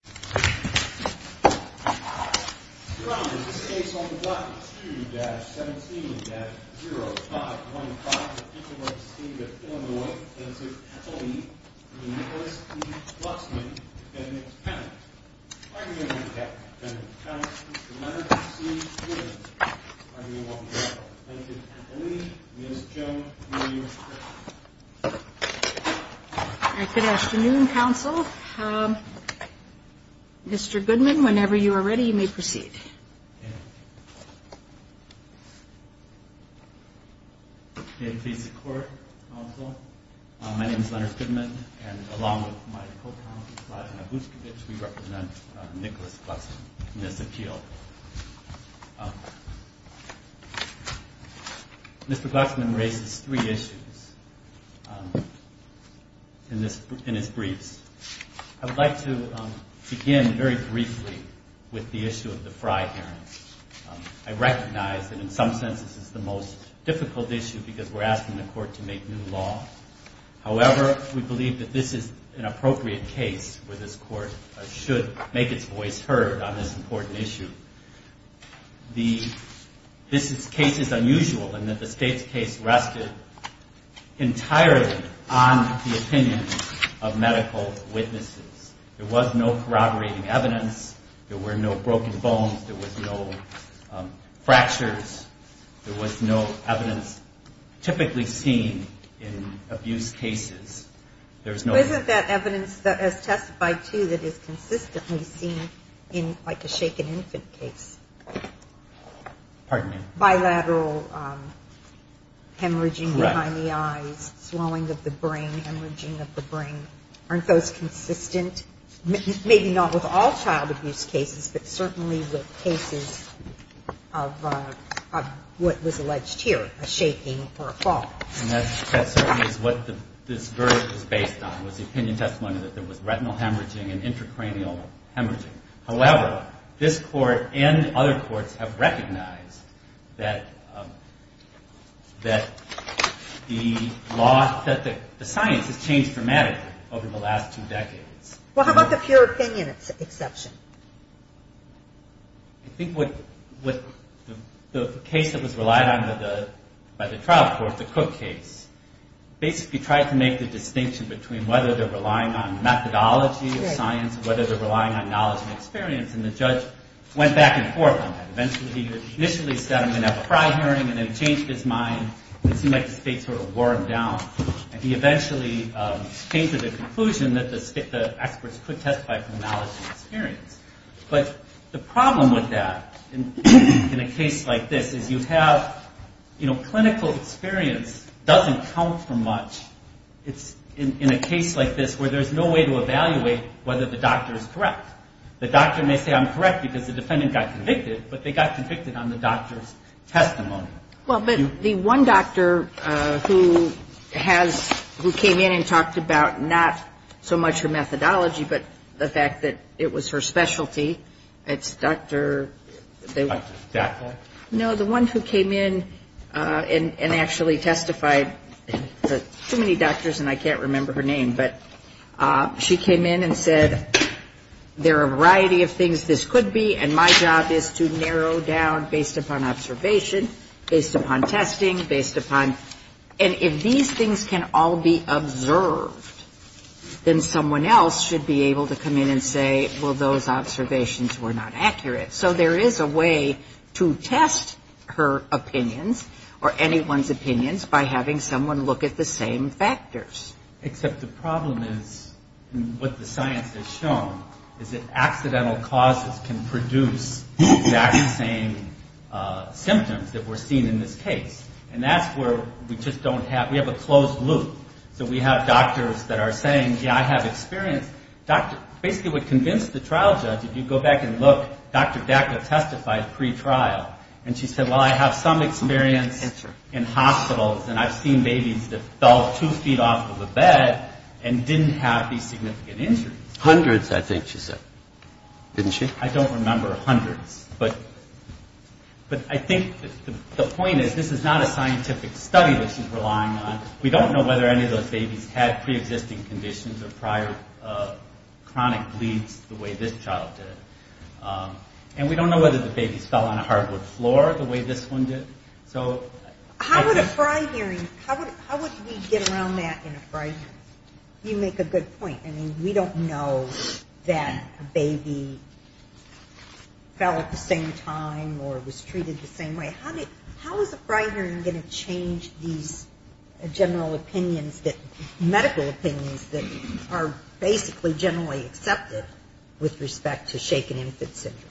2-17-0515, Illinois, Tennessee, Appellee, Nicholas E. Glucksmann, Defendant's Counsel. I'm here with the defendant's counsel, Mr. Leonard C. Williams. I'm here with the defendant's counsel, Mr. Leonard C. Williams. I'm here with the defendant's counsel, Mr. Leonard C. Williams. I'm here with the defendant's counsel, Mr. Leonard C. Williams. I'm here Mr. Glucksmann raises three issues in his briefs. I would like to begin very briefly with the issue of the Fry hearings. I recognize that in some sense this is the most difficult issue because we're asking the court to make new law. However, we believe that this is an appropriate case where this court should make its voice heard on this important issue. This case is unusual in that the state's case rested entirely on the opinion of medical witnesses. There was no corroborating evidence. There were no broken bones. There was no fractures. There was no evidence typically seen in abuse cases. Isn't that evidence that is testified to that is consistently seen in like a shaken infant case? Bilateral hemorrhaging behind the eyes, swelling of the brain, hemorrhaging of the brain. Aren't those consistent, maybe not with all child abuse cases, but certainly with cases of what was alleged here, a shaking or a fall? That certainly is what this verdict was based on, was the opinion testimony that there was retinal hemorrhaging and intracranial hemorrhaging. However, this court and other courts have recognized that the science has changed dramatically over the last two decades. Well, how about the pure opinion exception? I think what the case that was relied on by the trial court, the Cook case, basically tried to make the distinction between whether they're relying on methodology of science, whether they're relying on knowledge and experience, and the judge went back and forth on that. Eventually, he initially said, I'm going to have a prior hearing, and then changed his mind. It seemed like the state sort of wore him down, and he eventually came to the But the problem with that in a case like this is you have, you know, clinical experience doesn't count for much. It's in a case like this where there's no way to evaluate whether the doctor is correct. The doctor may say I'm correct because the defendant got convicted, but they got convicted on the doctor's testimony. Well, but the one doctor who came in and talked about not so much her methodology, but the specialty, it's Dr. No, the one who came in and actually testified, too many doctors and I can't remember her name, but she came in and said, there are a variety of things this could be, and my job is to narrow down based upon observation, based upon testing, based upon, and if these things can all be observed, then someone else should be able to come in and say, well, those observations were not accurate. So there is a way to test her opinions or anyone's opinions by having someone look at the same factors. Except the problem is, what the science has shown, is that accidental causes can produce the exact same symptoms that were seen in this case, and that's where we just don't have, we have a closed loop. So we have doctors that are saying, yeah, I have experience. Basically what convinced the trial judge, if you go back and look, Dr. Dacca testified pre-trial, and she said, well, I have some experience in hospitals, and I've seen babies that fell two feet off of a bed and didn't have these significant injuries. Hundreds, I think she said, didn't she? I don't remember hundreds, but I think the point is, this is not a scientific study that she's relying on. We don't know whether any of those babies had pre-existing conditions or prior chronic bleeds the way this child did. And we don't know whether the babies fell on a hardwood floor the way this one did. How would a fry hearing, how would we get around that in a fry hearing? You make a good point. I mean, we don't know that a baby fell at the same time or was treated the same way. How is a fry hearing going to change these general opinions, medical opinions that are basically generally accepted with respect to shaken infant syndrome?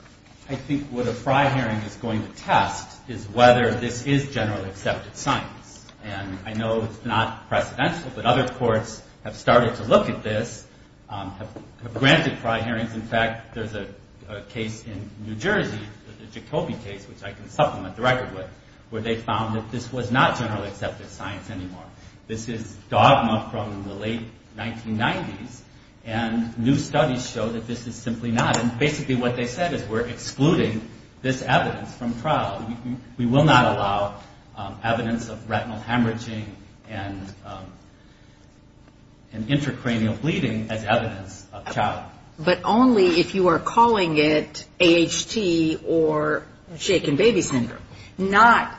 I think what a fry hearing is going to test is whether this is generally accepted science. And I know it's not precedential, but other courts have started to look at this, have granted fry hearings. In fact, there's a case in New Jersey, the Jacoby case, which I can supplement the record with, where they found that this was not generally accepted science anymore. This is dogma from the late 1990s, and new studies show that this is simply not. And basically what they said is, we're excluding this evidence from trial. We will not allow evidence of retinal hemorrhaging and intracranial bleeding as evidence of child. But only if you are calling it A.H.T. or shaken baby syndrome. Not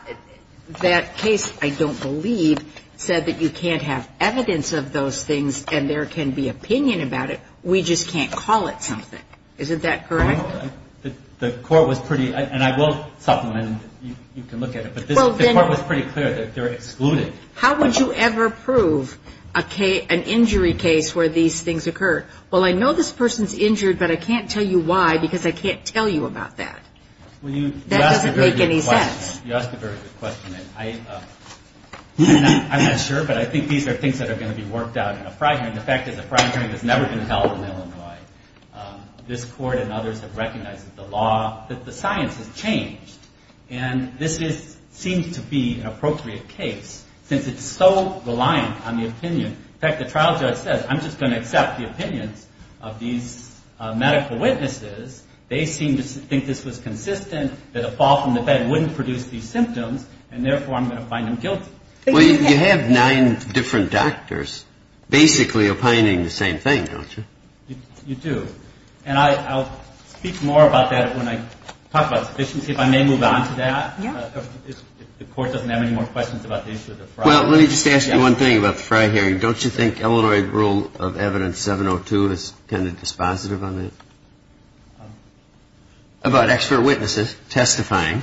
that case, I don't believe, said that you can't have evidence of those things and there can be opinion about it. We just can't call it something. Isn't that correct? The court was pretty, and I will supplement and you can look at it, but the court was pretty clear that they're excluding. How would you ever prove an injury case where these things occur? Well, I know this person's injured, but I can't tell you why because I can't tell you about that. That doesn't make any sense. You asked a very good question. I'm not sure, but I think these are things that are going to be worked out in a fry hearing. The fact is, a fry hearing has never been recognized as the law, that the science has changed. And this seems to be an appropriate case since it's so reliant on the opinion. In fact, the trial judge says, I'm just going to accept the opinions of these medical witnesses. They seem to think this was consistent, that a fall from the bed wouldn't produce these symptoms, and therefore I'm going to find them guilty. Well, you have nine different doctors basically opining the same thing, don't you? You do. And I'll speak more about that when I talk about sufficiency. If I may move on to that. Yeah. If the court doesn't have any more questions about the issue of the fry. Well, let me just ask you one thing about the fry hearing. Don't you think Illinois rule of evidence 702 is kind of dispositive on it? About expert witnesses testifying.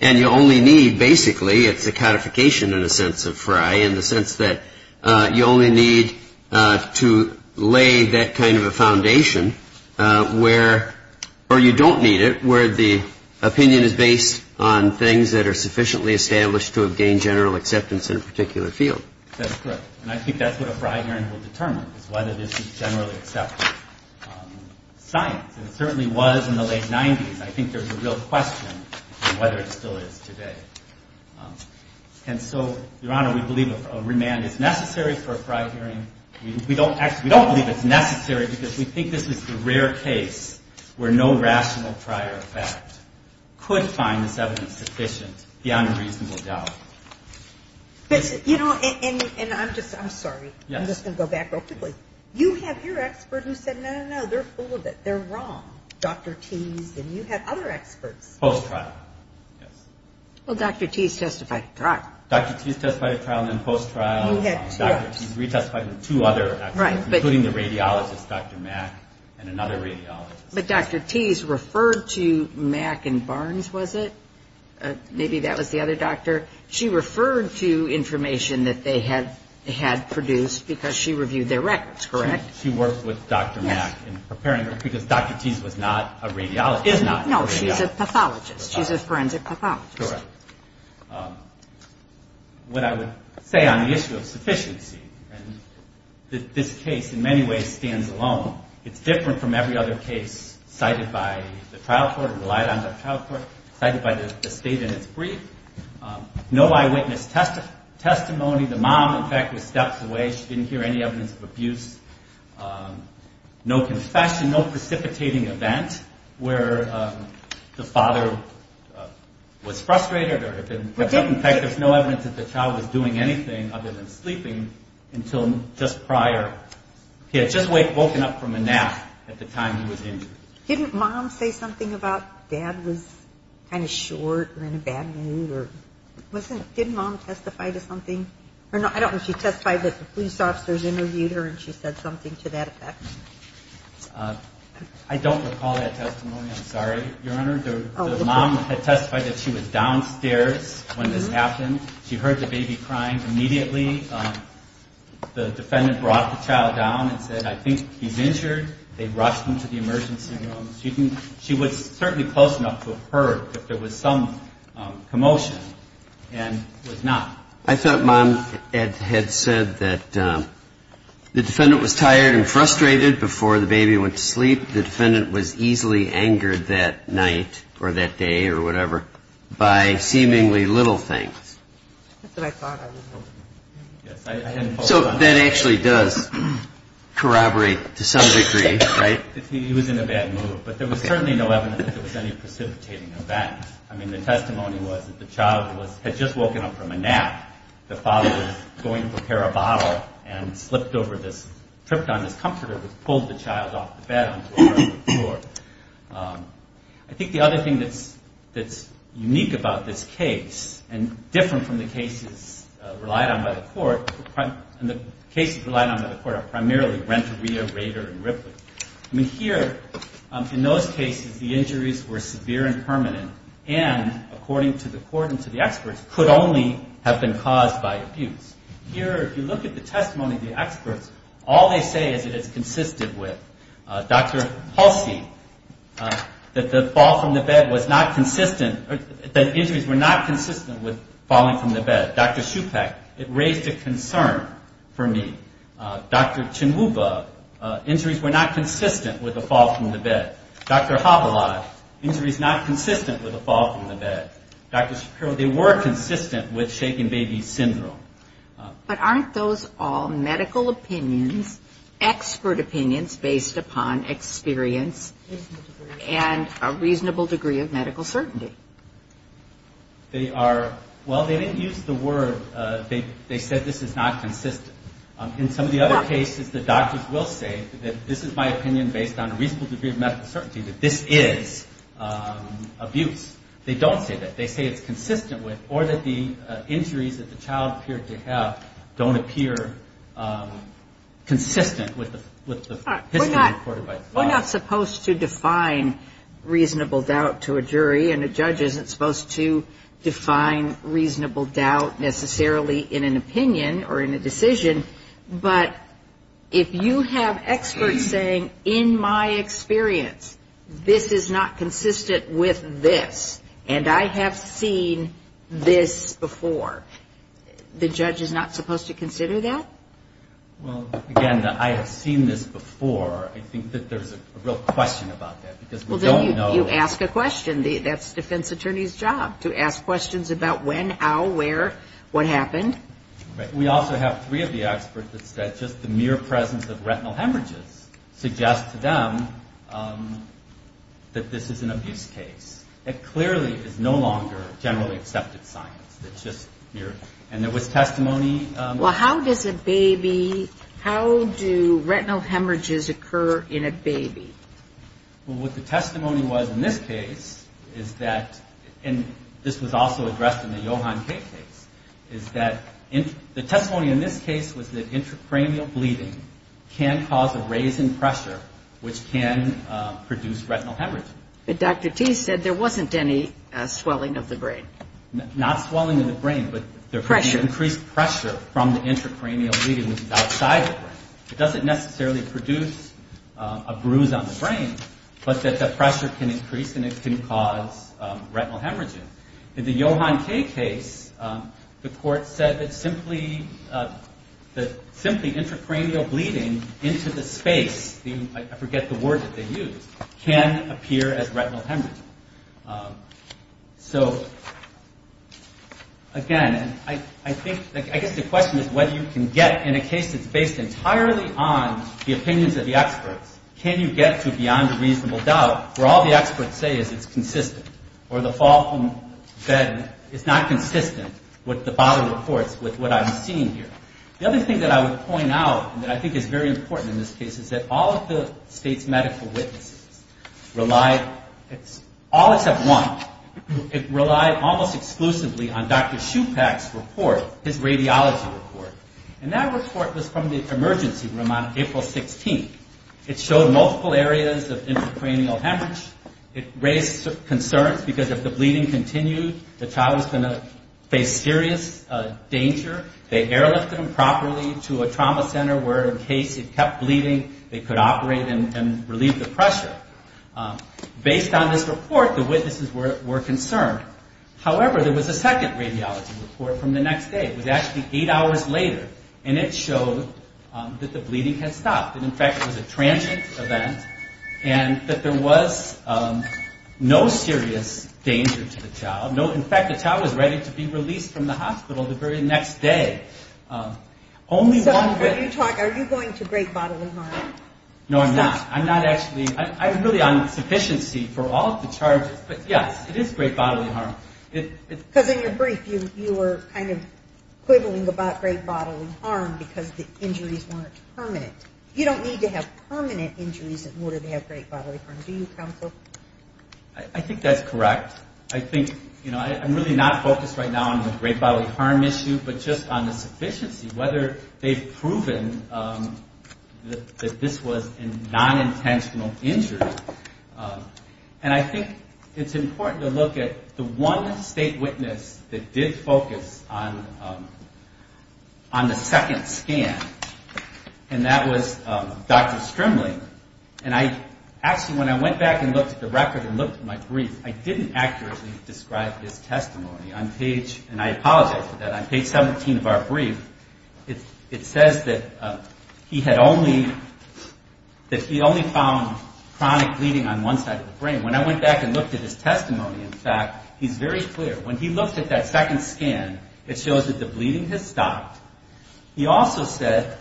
And you only need basically, it's a codification in a sense of fry, in the sense that you only need to lay that kind of a foundation where, or you don't need it, where the opinion is based on things that are sufficiently established to have gained general acceptance in a particular field. That's correct. And I think that's what a fry hearing will determine, is whether this is generally accepted. Science, and it certainly was in the late 90s. I think there's a real question on whether it still is today. And so, Your Honor, we believe a remand is necessary for a fry hearing. We don't believe it's necessary because we think this is the rare case where no rational fry or fact could find this evidence sufficient beyond a reasonable doubt. But, you know, and I'm just, I'm sorry. I'm just going to go back real quickly. You have your expert who said, no, no, no, they're fool of it. They're wrong. Dr. Tease, and you have other experts. Post-trial. Yes. Well, Dr. Tease testified at trial. Dr. Tease testified at trial, then post-trial. You had two others. Dr. Tease retestified with two other experts. Right. Including the radiologist, Dr. Mack, and another radiologist. But Dr. Tease referred to Mack and Barnes, was it? Maybe that was the other doctor. She referred to information that they had produced because she reviewed their records, correct? She worked with Dr. Mack in preparing her, because Dr. Tease was not a radiologist. Is not a radiologist. No, she's a pathologist. She's a forensic pathologist. Correct. What I would say on the issue of sufficiency, and this case in many ways stands alone. It's different from every other case cited by the trial court, relied on by the trial court, cited by the state in its brief. No eyewitness testimony. The mom, in fact, was stepped away. She didn't hear any evidence of abuse. No confession, no precipitating event where the child was doing anything other than sleeping until just prior. He had just woken up from a nap at the time he was injured. Didn't mom say something about dad was kind of short or in a bad mood? Didn't mom testify to something? I don't know if she testified that the police officers interviewed her and she said something to that effect. I don't recall that testimony. I'm sorry. Your Honor, the mom had testified that she was downstairs when this happened. She heard the baby crying. Immediately the defendant brought the child down and said, I think he's injured. They rushed him to the emergency room. She was certainly close enough to have heard that there was some commotion and was not. I thought mom had said that the defendant was tired and frustrated before the baby went to sleep. The defendant was easily angered that night or that day or whatever by seemingly little things. That's what I thought. So that actually does corroborate to some degree, right? He was in a bad mood. But there was certainly no evidence that there was any precipitating event. I mean, the testimony was that the child had just woken up from a nap. The father was going to prepare a bottle and tripped on his comforter and pulled the child off the bed onto the floor. I think the other thing that's unique about this case and different from the cases relied on by the court, and the cases relied on by the court are primarily Renteria, Rader, and Ripley. Here, in those cases, the injuries were severe and permanent and, according to the court and to the experts, could only have been caused by abuse. Here, if you look at the testimony of the experts, all they say is that it's a faulty, that the fall from the bed was not consistent, that injuries were not consistent with falling from the bed. Dr. Shupak, it raised a concern for me. Dr. Chinuva, injuries were not consistent with a fall from the bed. Dr. Havilaj, injuries not consistent with a fall from the bed. Dr. Shapiro, they were consistent with shaking baby syndrome. But aren't those all medical opinions, expert opinions based upon experience and a reasonable degree of medical certainty? Well, they didn't use the word they said this is not consistent. In some of the other cases, the doctors will say that this is my opinion based on a reasonable degree of medical certainty that this is abuse. They don't say that. They say it's consistent with, or that the injuries that the child appeared to have don't appear consistent with the history recorded by the father. We're not supposed to define reasonable doubt to a jury, and a judge isn't supposed to define reasonable doubt necessarily in an opinion or in a decision. But if you have experts saying, in my experience, this is not consistent with this, and I have seen this before, the judge is not supposed to consider that? Well, again, I have seen this before. I think that there's a real question about that, because we don't know. Well, then you ask a question. That's defense attorney's job, to ask questions about when, how, where, what happened. We also have three of the experts that said just the mere presence of retinal hemorrhages suggests to them that this is an abuse case. It clearly is no longer generally accepted science. And there was testimony. Well, how does a baby, how do retinal hemorrhages occur in a baby? Well, what the testimony was in this case is that, and this was also addressed in the Johan Kay case, is that the testimony in this case was that intracranial bleeding can cause a raise in pressure, which can produce retinal hemorrhages. But Dr. T said there wasn't any swelling of the brain. Not swelling of the brain, but increased pressure from the intracranial bleeding that's outside the brain. It doesn't necessarily produce a bruise on the brain, but that the pressure can increase and it can cause retinal hemorrhages. In the Johan Kay case, the court said that simply intracranial bleeding into the space, I forget the word that they used, can appear as retinal hemorrhage. So, again, I think, I guess the question is whether you can get, in a case that's based entirely on the opinions of the experts, can you get to beyond reasonable doubt, where all the experts say is it's consistent, or the fall from bed is not consistent with the bodily reports, with what I'm seeing here. The other thing that I would point out that I think is very important in this case is that all of the state's medical witnesses relied, all except one, it relied almost exclusively on Dr. Shupak's report, his radiology report. And that report was from the emergency room on April 16th. It showed multiple areas of intracranial hemorrhage. It raised concerns, because if the bleeding continued, the child was going to face serious danger. They airlifted him properly to a trauma center, where in case it kept bleeding, they could operate and relieve the pressure. Based on this report, the witnesses were concerned. However, there was a second radiology report from the next day. It was actually eight hours later, and it showed that the bleeding had stopped. In fact, it was a transient event, and that there was no serious danger to the child. In fact, the child was ready to be released from the hospital the very next day. Are you going to great bodily harm? No, I'm not. I'm really on sufficiency for all of the charges, but yes, it is great bodily harm because the injuries weren't permanent. You don't need to have permanent injuries in order to have great bodily harm. Do you, counsel? I think that's correct. I'm really not focused right now on the great bodily harm issue, but just on the sufficiency, whether they've proven that this was a non-intentional injury. And I think it's important to look at the one state witness that did focus on the second scan, and that was Dr. Strimley. Actually, when I went back and looked at the record and looked at my brief, I didn't accurately describe his testimony. I apologize for that. On page 17 of our brief, it says that he had only found chronic bleeding on one side of the brain. When I went back and looked at his testimony, in fact, he's very clear. When he looked at that second scan, it shows that the bleeding had stopped. He also said,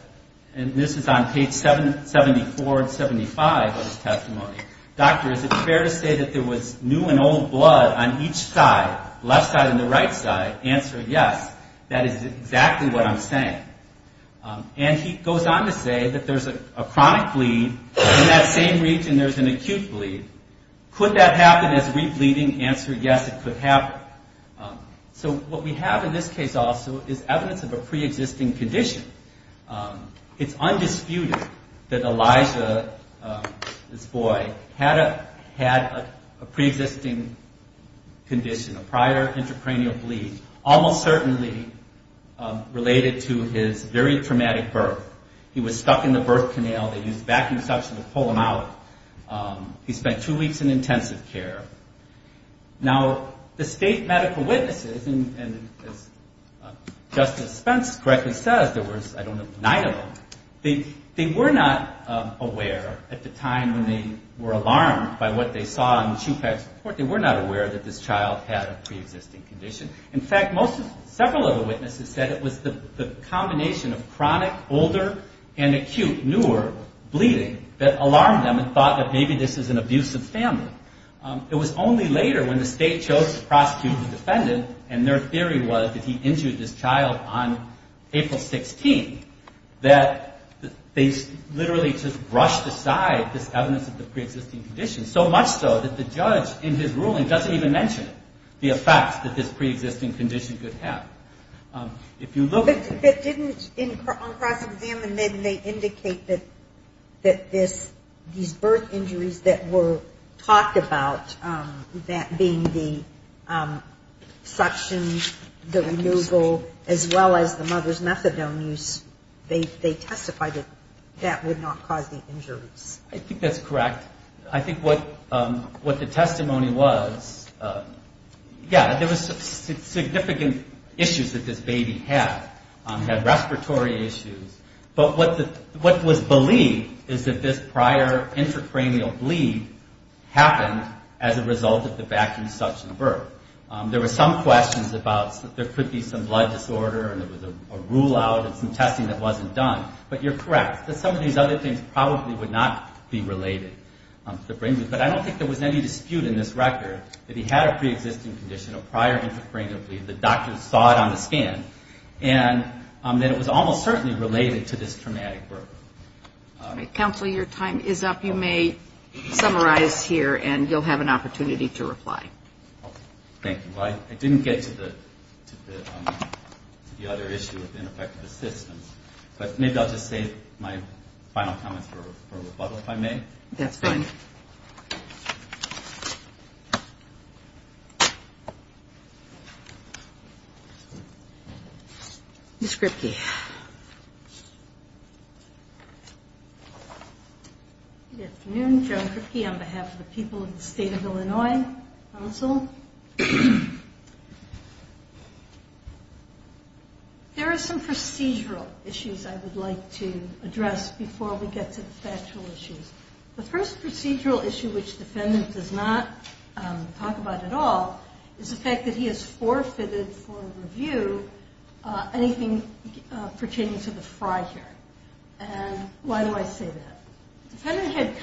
and this is on page 74 and 75 of his testimony, Doctor, is it fair to say that there was new and old blood on each side, left side and the right side? Answer, yes. That is exactly what I'm saying. And he goes on to say that there's a acute bleed. Could that happen as re-bleeding? Answer, yes, it could happen. So what we have in this case also is evidence of a pre-existing condition. It's undisputed that Elijah, this boy, had a pre-existing condition, a prior intracranial bleed, almost certainly related to his very traumatic birth. He was stuck in the birth canal. They used vacuum suction to pull him out. He spent two weeks in intensive care. Now, the state medical witnesses, and as Justice Spence correctly says, there was, I don't know, nine of them, they were not aware at the time when they were alarmed by what they saw in the Chupac report, they were not aware that this child had a pre-existing condition. In fact, several of the witnesses said it was the combination of chronic, older, and acute, newer bleeding that alarmed them and thought that maybe this is an abusive family. It was only later when the state chose to prosecute the defendant, and their theory was that he injured this child on April 16th, that they literally just brushed aside this evidence of the pre-existing condition, so much so that the child was in good health. If you look at the... But didn't, on cross-examination, they indicate that these birth injuries that were talked about, that being the suction, the removal, as well as the mother's methadone use, they testified that that would not cause the injuries. I think that's correct. I think what the testimony was, yeah, there was significant issues that this baby had, had respiratory issues, but what was believed is that this prior intracranial bleed happened as a result of the vacuum suction birth. There were some questions about there could be some blood disorder, and there was a rule out, and some testing that wasn't done, but you're correct, that some of these other things probably would not be related to the brain bleed, but I don't think there was any dispute in this record that he had a pre-existing condition, a prior intracranial bleed, the doctors saw it on the scan, and that it was almost certainly related to this traumatic birth. Counsel, your time is up. You may summarize here, and you'll have an opportunity to reply. Thank you. I didn't get to the other issue of ineffective assistance, but maybe I'll just save my final comments for rebuttal if I may. Ms. Kripke. Good afternoon. Joan Kripke on behalf of the people of the State of Illinois Council. There are some procedural issues I would like to address before we get to the factual issues. The first procedural issue, which the defendant does not talk about at all, is the fact that he has forfeited for review anything related to pertaining to the Frye hearing, and why do I say that? The defendant had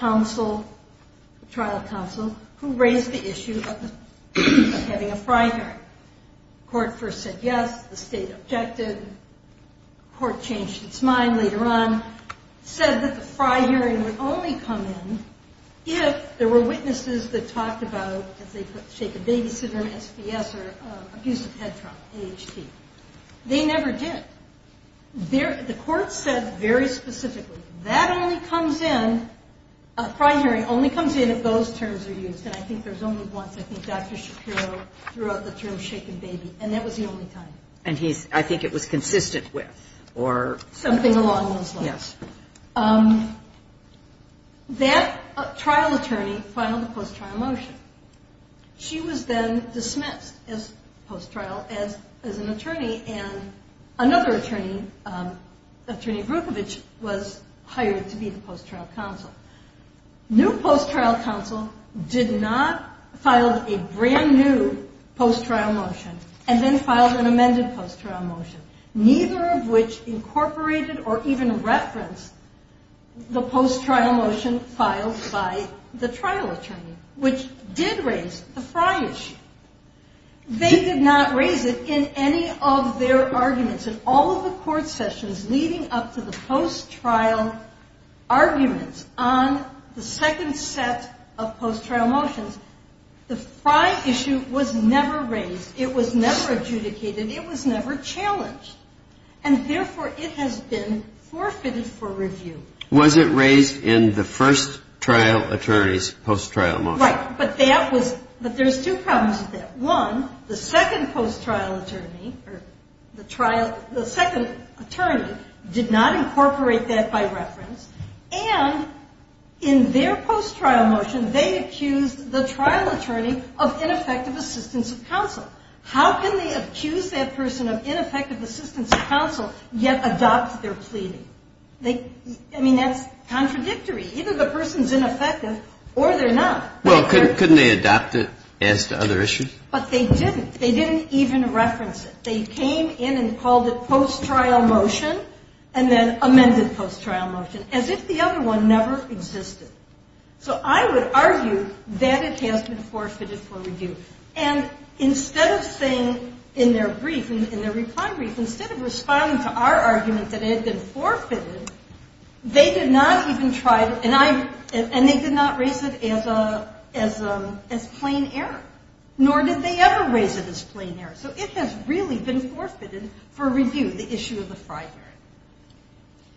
trial counsel who raised the issue of having a Frye hearing. The court first said yes. The state objected. The court changed its mind later on, said that the Frye hearing would only come in if there were witnesses that talked about, as they put, shaken baby syndrome, SVS, or abusive head trauma, AHT. They never did. The court said very specifically, that only comes in, a Frye hearing only comes in if those terms are used, and I think there's only once. I think Dr. Shapiro threw out the term shaken baby, and that was the only time. And I think it was consistent with, or something along those lines. Yes. That trial attorney filed a post-trial motion. She was then dismissed as post-trial, as an attorney, and another attorney, Attorney Brukovich, was hired to be the post-trial counsel. New post-trial counsel did not file a brand new post-trial motion, and then reference the post-trial motion filed by the trial attorney, which did raise the Frye issue. They did not raise it in any of their arguments. In all of the court sessions leading up to the post-trial arguments on the second set of post-trial motions, the Frye issue was never raised. It was never adjudicated. It was never challenged, and therefore it has been forfeited for review. Was it raised in the first trial attorney's post-trial motion? Right. But there's two problems with that. One, the second post-trial attorney did not incorporate that by reference, and in their post-trial motion, they accused the trial attorney of ineffective assistance of counsel. How can they accuse that person of ineffective assistance of counsel, yet adopt their pleading? I mean, that's contradictory. Either the person's ineffective or they're not. But they didn't. They didn't even reference it. They came in and called it post-trial motion and then amended post-trial motion, as if the other one never existed. So I would argue that it has been forfeited for review. And instead of saying in their brief, in their reply brief, instead of responding to our argument that it had been forfeited, they did not even try to, and they did not raise it as plain error. Nor did they ever raise it as plain error. So it has really been forfeited for review.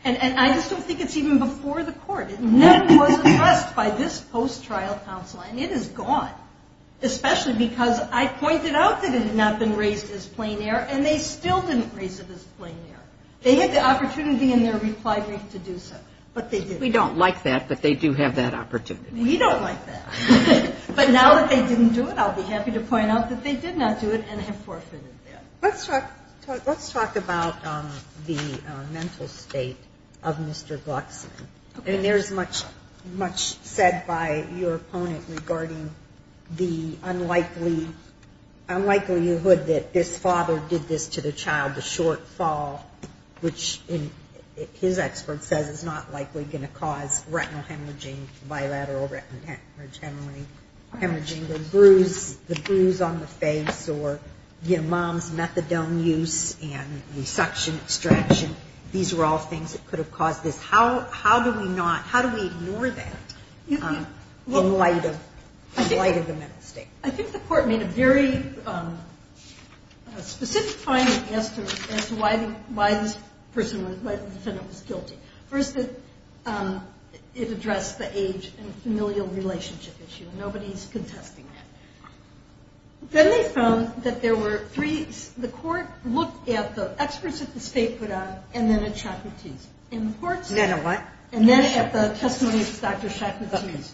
And it is gone, especially because I pointed out that it had not been raised as plain error, and they still didn't raise it as plain error. They had the opportunity in their reply brief to do so, but they didn't. We don't like that, but they do have that opportunity. We don't like that. But now that they didn't do it, I'll be happy to point out, much said by your opponent regarding the unlikelyhood that this father did this to the child, the shortfall, which his expert says is not likely going to cause retinal hemorrhaging, bilateral retinal hemorrhaging, the bruise on the face, or, you know, mom's methadone use and the suction extraction. These are all things that could have caused this. How do we not, how do we ignore that in light of the mental state? I think the court made a very specific finding as to why this person, why the defendant was guilty. First, it addressed the age and familial relationship issue. Nobody's contesting that. Then they found that there were three, the experts at the state put on, and then at Chakratees. And then at what? And then at the testimony of Dr. Chakratees.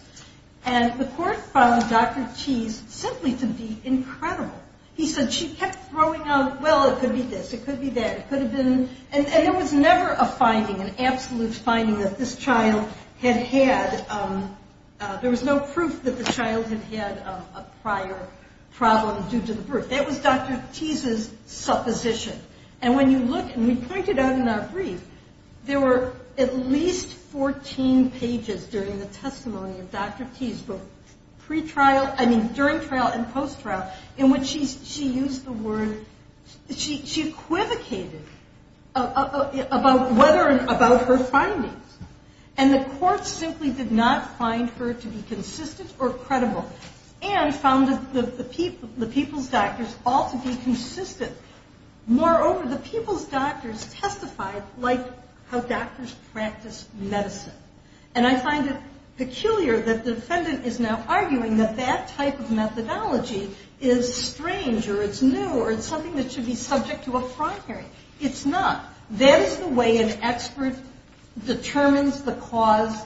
And the court found Dr. Tease simply to be incredible. He said, she kept throwing out, well, it could be this, it could be that, it could have been, and there was never a finding, an absolute finding that this child had had, there was no proof that the child had had a prior problem due to the birth. That was Dr. Tease's supposition. And when you look, and we pointed out in our brief, there were at least 14 pages during the testimony of Dr. Tease, both pre-trial, I mean during trial and post-trial, in which she used the word, she equivocated about whether, about her findings. And the court simply did not find her to be consistent or credible. And found the people's doctors all to be consistent, more than far over, the people's doctors testified like how doctors practice medicine. And I find it peculiar that the defendant is now arguing that that type of methodology is strange, or it's new, or it's something that should be subject to a primary. It's not. That is the way an expert determines the cause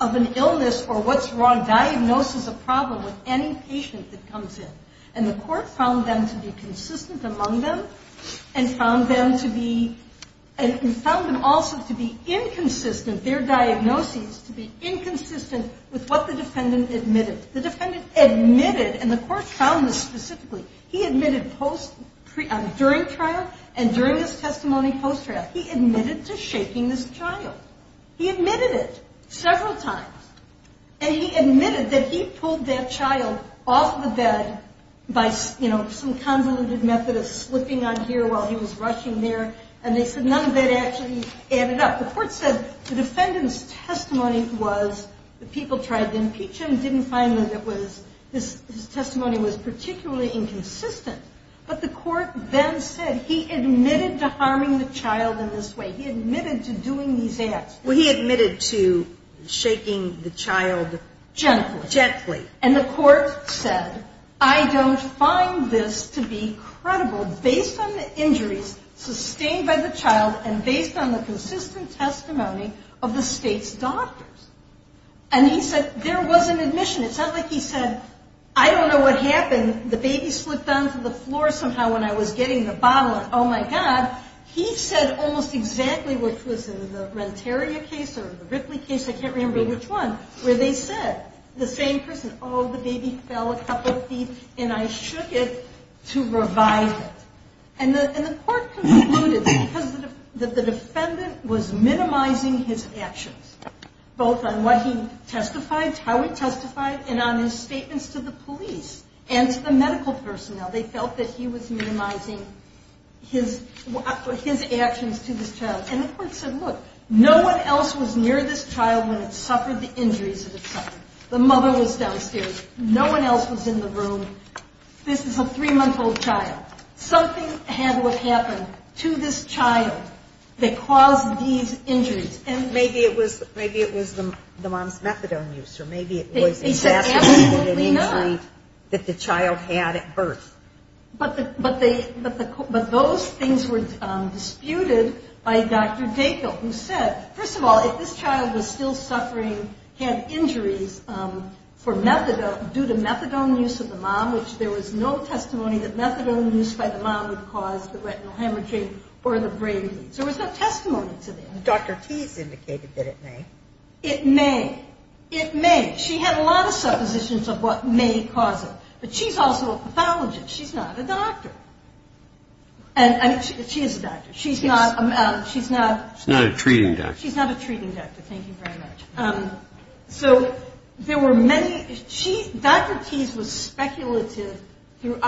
of an illness, or what's wrong, diagnoses a problem with any patient that comes in. And the court found them to be consistent among them, and found them to be, and found them also to be inconsistent, their diagnoses to be inconsistent with what the defendant admitted. The defendant admitted, and the court found this specifically, he admitted during trial and during his testimony post-trial, he admitted to shaking this child. He admitted it several times. And he admitted that he pulled that child off the bed by, you know, some convoluted method of slipping on here while he was rushing there. And they said none of that actually added up. The court said the defendant's testimony was, the people tried to impeach him, didn't find that it was, his testimony was particularly inconsistent. But the court then said he admitted to harming the child gently. Gently. And the court said, I don't find this to be credible based on the injuries sustained by the child and based on the consistent testimony of the state's doctors. And he said there was an admission. It's not like he said, I don't know what happened. The baby slipped onto the floor somehow when I was getting the bottle. Oh, my God. He said almost exactly what was in the Renteria case or the Ripley case, I can't remember which one, where they said the same person, oh, the baby fell a couple of feet and I shook it to revive it. And the court concluded because the defendant was minimizing his actions, both on what he testified, how he testified, and on his statements to the police and to the medical personnel. They felt that he was minimizing his actions. And the court said, look, no one else was near this child when it suffered the injuries that it suffered. The mother was downstairs. No one else was in the room. This is a three-month-old child. Something had to have happened to this child that caused these injuries. And maybe it was the mom's methadone use or maybe it was an injury that the child had at birth. But those things were disputed by Dr. Dackel who said, first of all, if this child was still suffering, had injuries for methadone, due to methadone use of the mom, which there was no testimony that methadone use by the mom would cause the retinal hemorrhaging or the brain bleeds. There was no testimony to that. Dr. Tease indicated that it may. It may. It may. She had a lot of suppositions of what may cause it. But she's also a pathologist. She's not a doctor. She is a doctor. She's not a treating doctor. Thank you very much. So there were many Dr. Tease was trying to prove. Isn't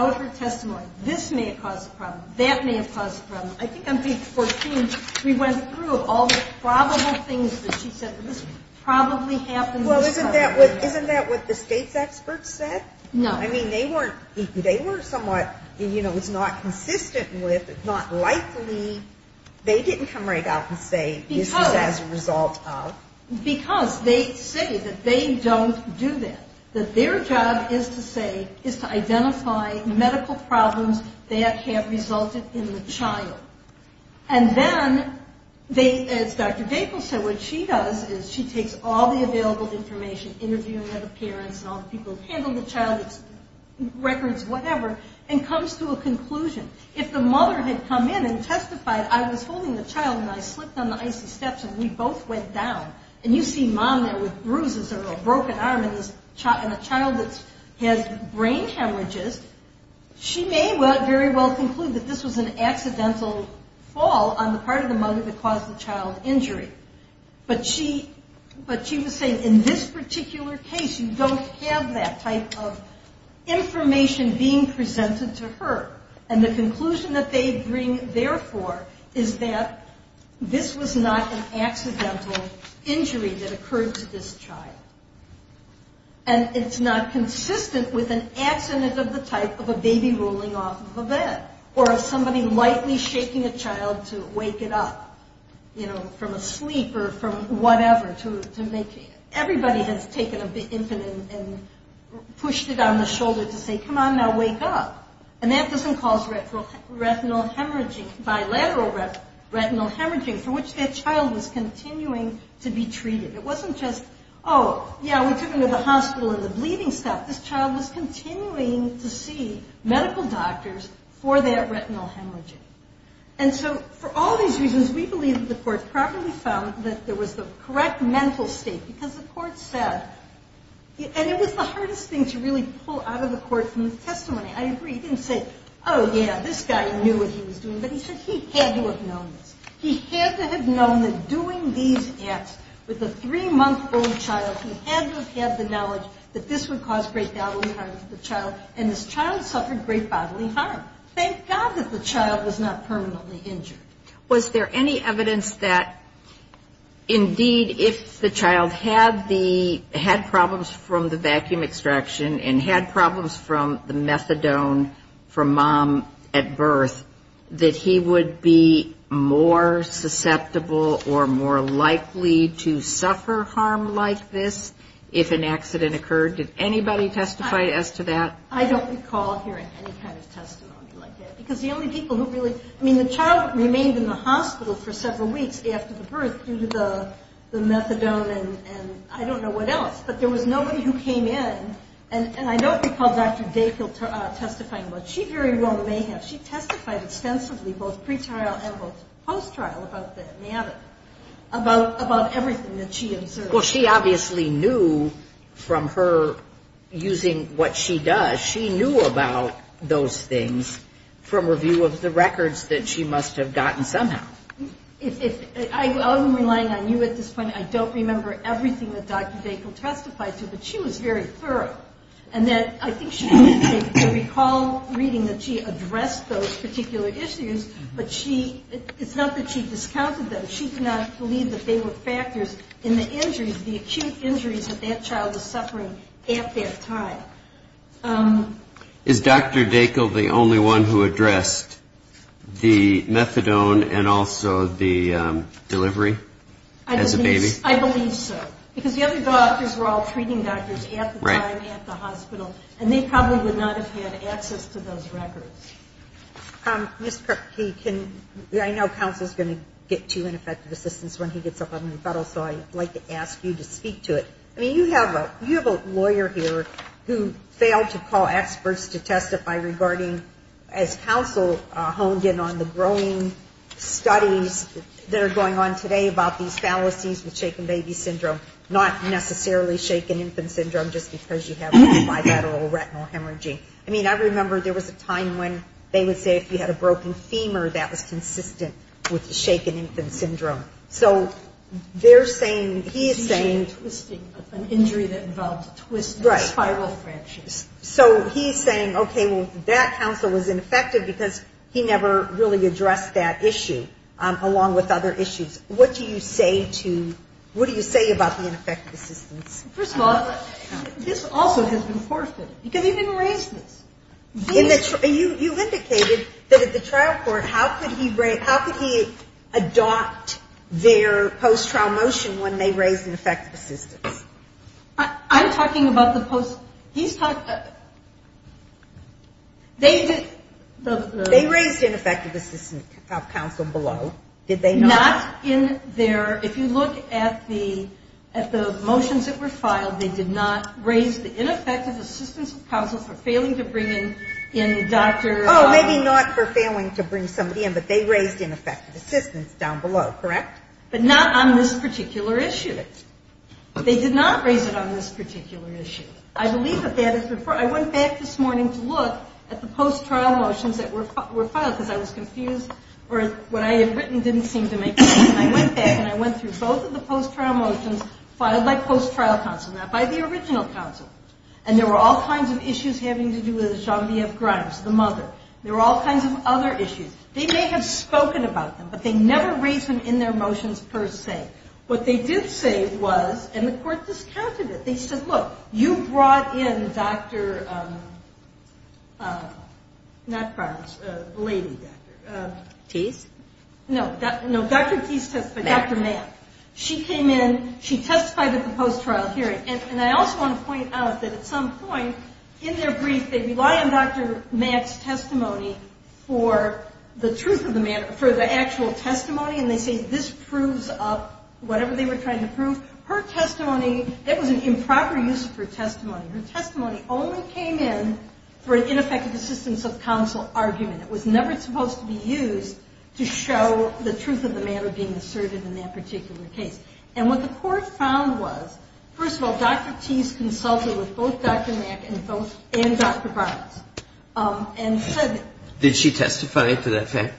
that what the state's experts said? No. Because they say that they don't do that. That their job is to say, is to identify medical problems that have resulted in the child. And then the mother, as Dr. Dackel said, what she does is she takes all the available information, interviewing other parents and all the people who handled the child, records, whatever, and comes to a conclusion. If the mother had come in and testified, I was holding the child and I slipped on the icy steps and we both went down, and you see mom there with bruises or a broken arm and a child that has brain hemorrhages, she may very well conclude that this was an accidental fall on the part of the mother that caused the child injury. But she was saying in this particular case, you don't have that type of information being presented to her. And the conclusion that they bring therefore is that this was not an accidental injury that occurred to this child. And it's not consistent with an accident of the type of a baby rolling off of a bed or of somebody lightly shaking a child to wake it up, you know, from a sleep or from whatever to make it. Everybody has taken a bit and pushed it on the shoulder to say, come on now, wake up. And that doesn't cause retinal hemorrhaging, bilateral retinal hemorrhaging for which that child was continuing to be treated. It wasn't just, oh, yeah, we took him to the hospital and the bleeding stopped. This child was continuing to see medical doctors for that retinal hemorrhaging. And so for all these reasons we believe that the court properly found that there was the correct mental state because the court said, and it was the hardest thing to really pull out of the case, the court had known that doing these acts with a three-month-old child who had not had the knowledge that this would cause great bodily harm to the child, and this child suffered great bodily harm. Thank God that the child was not permanently injured. Was there any evidence that indeed if the child had the had problems from the hospital or more likely to suffer harm like this if an accident occurred? Did anybody testify as to that? I don't recall hearing any kind of testimony like that. Because the only people who really, I mean, the child remained in the hospital for several weeks after the birth due to the methadone and I don't know what else. But there was pre-trial and post-trial about that methadone, about everything that she observed. Well, she obviously knew from her using what she does, she knew about those things from review of the records that she must have gotten somehow. I'm relying on you at this point. I don't remember everything that Dr. Bakel testified to, but she was very thorough. And then I think she did recall reading that she addressed those particular issues, but it's not that she discounted them. She did not believe that they were factors in the injuries, the acute injuries that that child was suffering at that time. Is Dr. Bakel the only one who addressed the methadone and also the delivery as a baby? I believe so. Because the other doctors were all treating doctors at the time, at the hospital, and they probably would not have had access to those records. Ms. Kirkkey, I know counsel is going to get to ineffective assistance when he gets up on the peddle, so I'd like to ask you to speak to it. I mean, you have a lawyer here who failed to call experts to testify regarding as counsel honed in on the growing studies that are going on today about these fallacies with shaken baby syndrome, not necessarily shaken infant syndrome just because you have a bilateral retinal hemorrhaging. I mean, I remember there was a time when they would say if you had a broken femur, that was consistent with the shaken infant syndrome. So they're saying, he is saying an injury that he never really addressed that issue along with other issues. What do you say to, what do you say about the ineffective assistance? First of all, this also has been forfeited because he didn't raise this. You indicated that at the trial court, how could he adopt their post-trial motion when they raised ineffective assistance? I'm talking about the post, he's talking, they did They raised ineffective assistance of counsel below, did they not? Not in their, if you look at the motions that were filed, they did not raise the ineffective assistance of counsel for failing to bring in Dr. Oh, maybe not for failing to bring somebody in, but they raised ineffective assistance down below, correct? But not on this particular issue. They did not raise it on this particular issue. I went back this morning to look at the post-trial motions that were filed because I was confused or what I had written didn't seem to make sense. And I went back and I went through both of the post-trial motions filed by post-trial counsel, not by the original counsel. And there were all kinds of issues having to do with Jean-B. F. Grimes, the mother. There were all kinds of other issues. They may have spoken about them, but they never raised them in their motions per se. What they did say was, and the court discounted it, they said, look, you brought in Dr. Not Grimes, the lady doctor. No, Dr. Matt. She came in, she testified at the post-trial hearing. And I also want to point out that at some point in their brief, they rely on Dr. Matt's testimony for the truth of the matter, for the actual testimony, and they say this proves up whatever they were trying to prove. Her testimony, it was an improper use of her testimony. Her testimony only came in for an ineffective assistance of counsel argument. It was never supposed to be used to show the truth of the matter being asserted in that particular case. And what the court found was, first of all, Dr. Tease consulted with both Dr. Matt and Dr. Grimes and said Did she testify to that fact?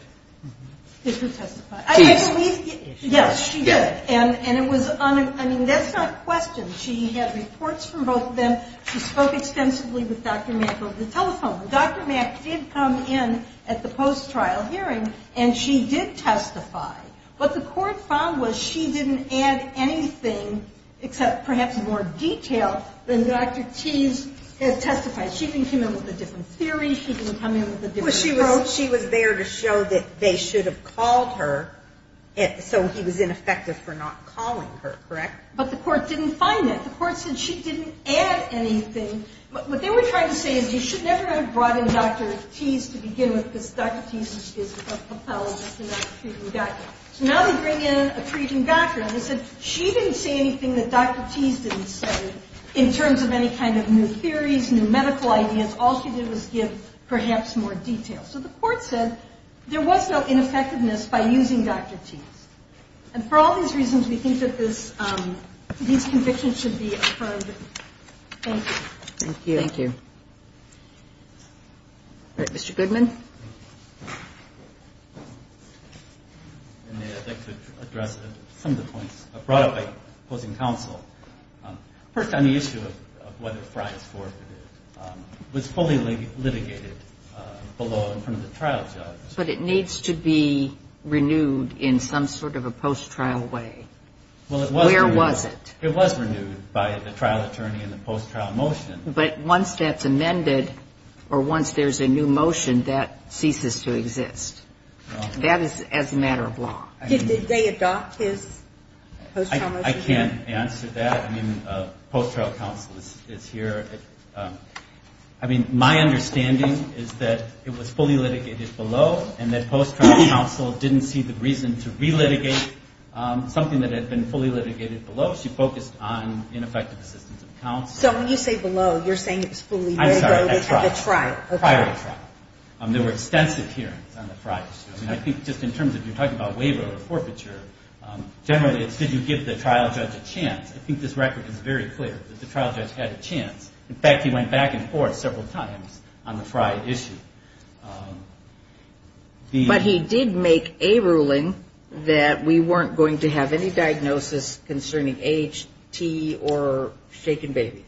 Yes, she did. And it was, I mean, that's not a question. She had reports from both of them. She spoke extensively with Dr. Matt over the telephone. Dr. Matt did come in at the post-trial hearing, and she did testify. What the court found was she didn't add anything except perhaps more detail than Dr. Tease had testified. She didn't come in with a different theory. She didn't come in with a different approach. So she was there to show that they should have called her, so he was ineffective for not calling her, correct? But the court didn't find that. The court said she didn't add anything. What they were trying to say is you should never have brought in Dr. Tease to begin with because Dr. Tease is a pathologist and not a treating doctor. So now they bring in a treating doctor, and they said she didn't say anything that Dr. Tease didn't say in terms of any kind of new theories, new medical ideas. All she did was give perhaps more detail. So the court said there was no ineffectiveness by using Dr. Tease. And for all these reasons, we think that these convictions should be affirmed. Thank you. Thank you. All right. Mr. Goodman. I'd like to address some of the points brought up by opposing counsel. First on the issue of whether Frye is forfeited. It was fully litigated below in front of the trial judge. But it needs to be renewed in some sort of a post-trial way. Where was it? It was renewed by the trial attorney in the post-trial motion. But once that's amended or once there's a new motion, that ceases to exist. That is as a matter of law. Did they adopt his post-trial motion? I can't answer that. I mean, post-trial counsel is here. I mean, my understanding is that it was fully litigated below and that post-trial counsel didn't see the reason to relitigate something that had been fully litigated below. She focused on ineffective assistance of counsel. So when you say below, you're saying it was fully waived at the trial. Prior to the trial. There were extensive hearings on the Frye issue. I think just in terms of you're talking about waiver or forfeiture, generally it's did you give the trial judge a chance. I think this record is very clear that the trial judge had a chance. In fact, he went back and forth several times on the Frye issue. But he did make a ruling that we weren't going to have any diagnosis concerning age, T or shaken baby.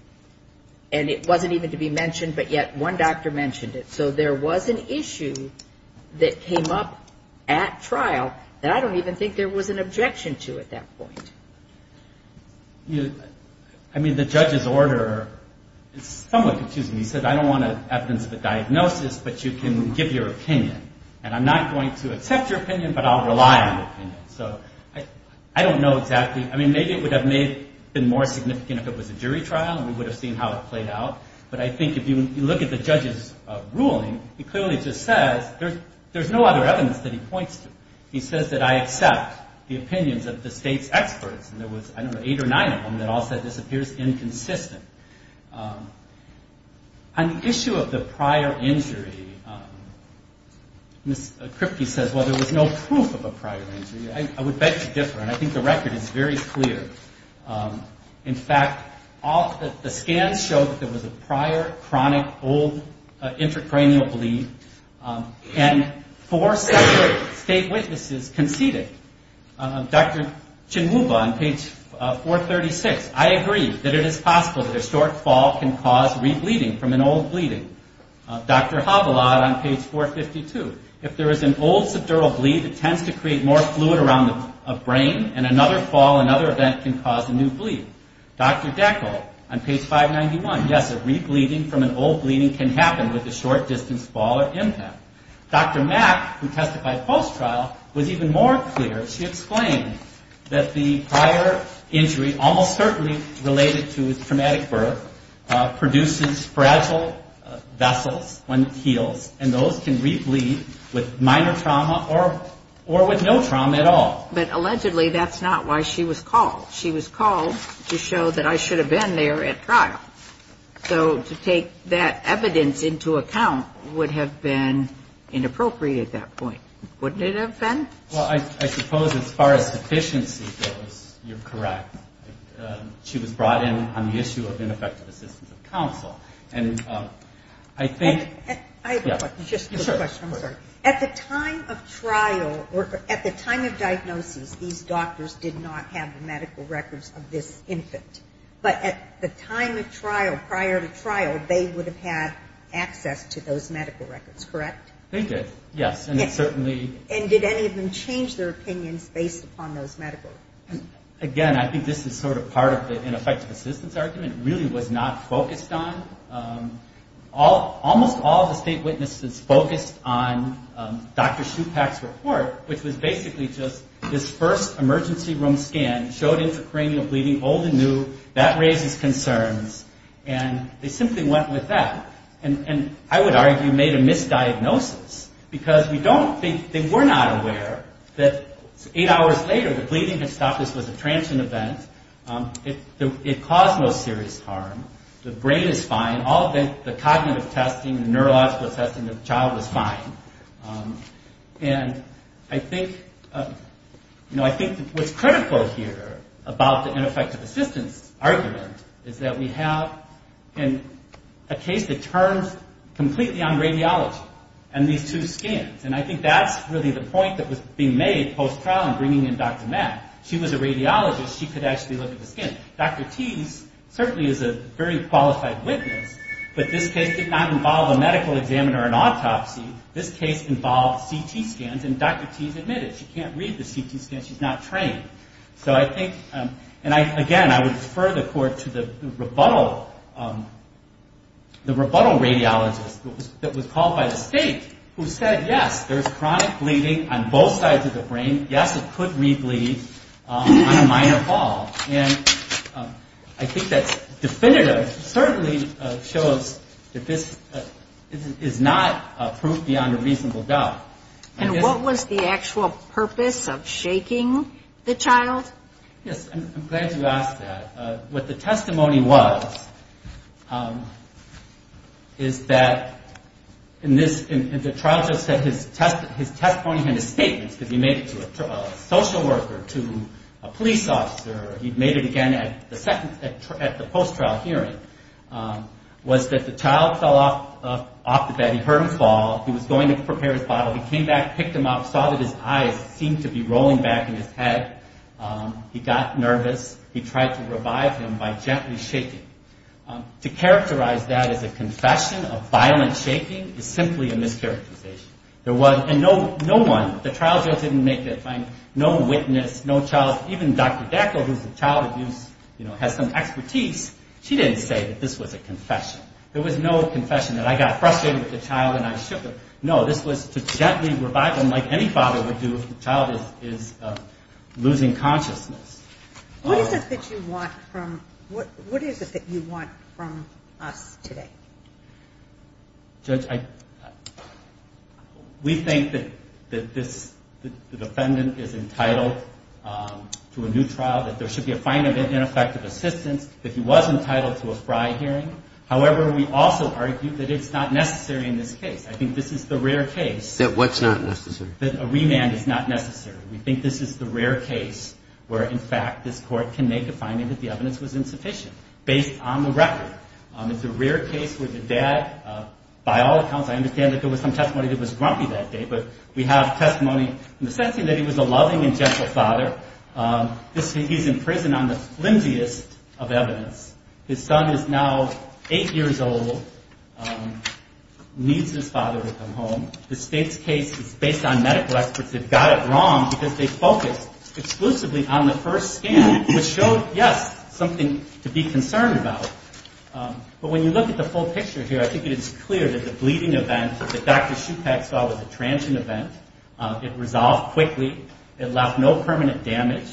And it wasn't even to be mentioned, but yet one doctor mentioned it. So there was an issue that came up at trial that I don't even think there was an objection to at that point. I mean, the judge's order is somewhat confusing. He said, I don't want evidence of a diagnosis, but you can give your opinion. And I'm not going to accept your opinion, but I'll rely on your opinion. So I don't know exactly. I mean, maybe it would have been more significant if it was a jury trial and we would have seen how it played out. But I think if you look at the judge's ruling, he clearly just says there's no other evidence that he points to. He says that I accept the opinions of the state's experts, and there was, I don't know, eight or nine of them that all said this appears inconsistent. On the issue of the prior injury, Ms. Kripke says, well, there was no proof of a prior injury. I would bet you different. I think the record is very clear. In fact, the scans show that there was a prior chronic old intracranial bleed, and four separate state witnesses conceded. Dr. Chinwuba on page 436, I agree that it is possible that a short fall can cause re-bleeding from an old bleeding. Dr. Havilah on page 452, if there is an old subdural bleed, it tends to create more fluid around the brain, and another fall, another event can cause a new bleed. Dr. Deckel on page 591, yes, a re-bleeding from an old bleeding can happen with a short-distance fall or impact. Dr. Mack, who testified post-trial, was even more clear. She explained that the prior injury, almost certainly related to traumatic birth, produces fragile vessels on the heels, and those can re-bleed with minor trauma or with no trauma at all. But allegedly that's not why she was called. She was called to show that I should have been there at trial. So to take that evidence into account would have been inappropriate at that point, wouldn't it have been? Well, I suppose as far as sufficiency goes, you're correct. She was brought in on the issue of ineffective assistance of counsel. And I think... I have a question. Just a question. I'm sorry. At the time of trial, at the time of diagnosis, these doctors did not have the medical records of this infant. But at the time of trial, prior to trial, they would have had the medical records of this infant, and they did not have access to those medical records, correct? They did, yes. And it certainly... And did any of them change their opinions based upon those medical records? Again, I think this is sort of part of the ineffective assistance argument. It really was not focused on... Almost all of the state witnesses focused on Dr. Shupak's report, which was basically just this first emergency room scan showed intracranial bleeding, old and new. That raises concerns. And they simply went with that. And I would argue made a misdiagnosis, because we don't think... They were not aware that eight hours later the bleeding had stopped. This was a transient event. It caused no serious harm. The brain is fine. All of the cognitive testing and neurological testing of the child was fine. And I think... The other thing I want to draw here about the ineffective assistance argument is that we have a case that turns completely on radiology and these two scans. And I think that's really the point that was being made post-trial in bringing in Dr. Matt. She was a radiologist. She could actually look at the skin. Dr. Tease certainly is a very qualified witness, but this case did not involve a medical examiner or an autopsy. This case involved CT scans, and Dr. Tease admitted she can't read the CT scans. She's not trained. So I think... And again, I would defer the court to the rebuttal radiologist that was called by the state who said, yes, there's chronic bleeding on both sides of the brain. Yes, it could re-bleed on a minor ball. And I think that definitively certainly shows that this is not proof beyond a factual purpose of shaking the child. Yes, I'm glad you asked that. What the testimony was, is that... And the trial judge said his testimony and his statements, because he made it to a social worker, to a police officer, he made it again at the post-trial hearing, was that the child fell off the bed. He heard him fall. He was going to prepare his bottle. He came back, picked him up, saw that his eyes seemed to be rolling back in his head. He got nervous. He tried to revive him by gently shaking. To characterize that as a confession of violent shaking is simply a mischaracterization. And no one, the trial judge didn't make it. No witness, no child... Even Dr. Dackel, who's a child abuser, has some expertise. She didn't say that this was a confession. There was no confession that I got frustrated with the child and I shook him. No, this was to gently revive him like any father would do if the child is losing consciousness. What is it that you want from us today? Judge, we think that the defendant is entitled to a new trial, that there should be a fine of ineffective assistance, that he was entitled to a fry hearing. However, we also argue that it's not necessary in this case. I think this is the rare case that a remand is not necessary. We think this is the rare case where, in fact, this court can make a finding that the evidence was insufficient based on the record. It's a rare case where the dad, by all accounts, I understand that there was some testimony that was grumpy that day, but we have testimony in the sense that he was a loving and gentle father. He's in prison on the flimsiest of evidence. His son is now eight years old, needs his father to help him. The state's case is based on medical experts. They've got it wrong because they focused exclusively on the first scan, which showed, yes, something to be concerned about. But when you look at the full picture here, I think it is clear that the bleeding event that Dr. Schupack saw was a transient event. It resolved quickly. It left no permanent damage.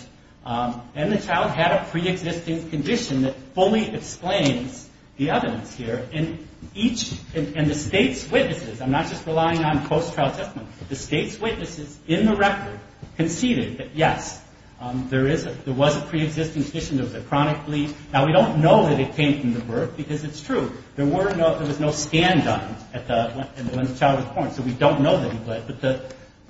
And the child had a pre-existing condition that fully explains the evidence here. And each, and the state's witnesses, I'm not just talking about relying on post-trial testimony. The state's witnesses in the record conceded that, yes, there is a, there was a pre-existing condition. It was a chronic bleed. Now, we don't know that it came from the birth because it's true. There were no, there was no scan done at the, when the child was born. So we don't know that he bled. But the,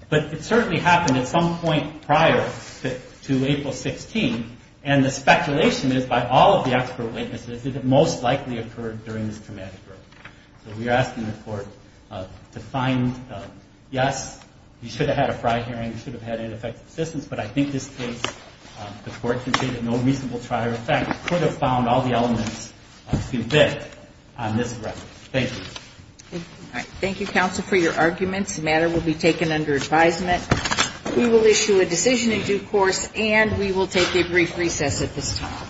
but it certainly happened at some point prior to April 16. And the speculation is by all of the expert witnesses that it most likely occurred during this time. So, in my mind, yes, he should have had a prior hearing. He should have had ineffective assistance. But I think this case, the court can say that no reasonable trial or effect could have found all the elements to convict on this record. Thank you. Thank you, counsel, for your arguments. The matter will be taken under advisement. We will issue a decision in due course, and we will take a brief recess at this time.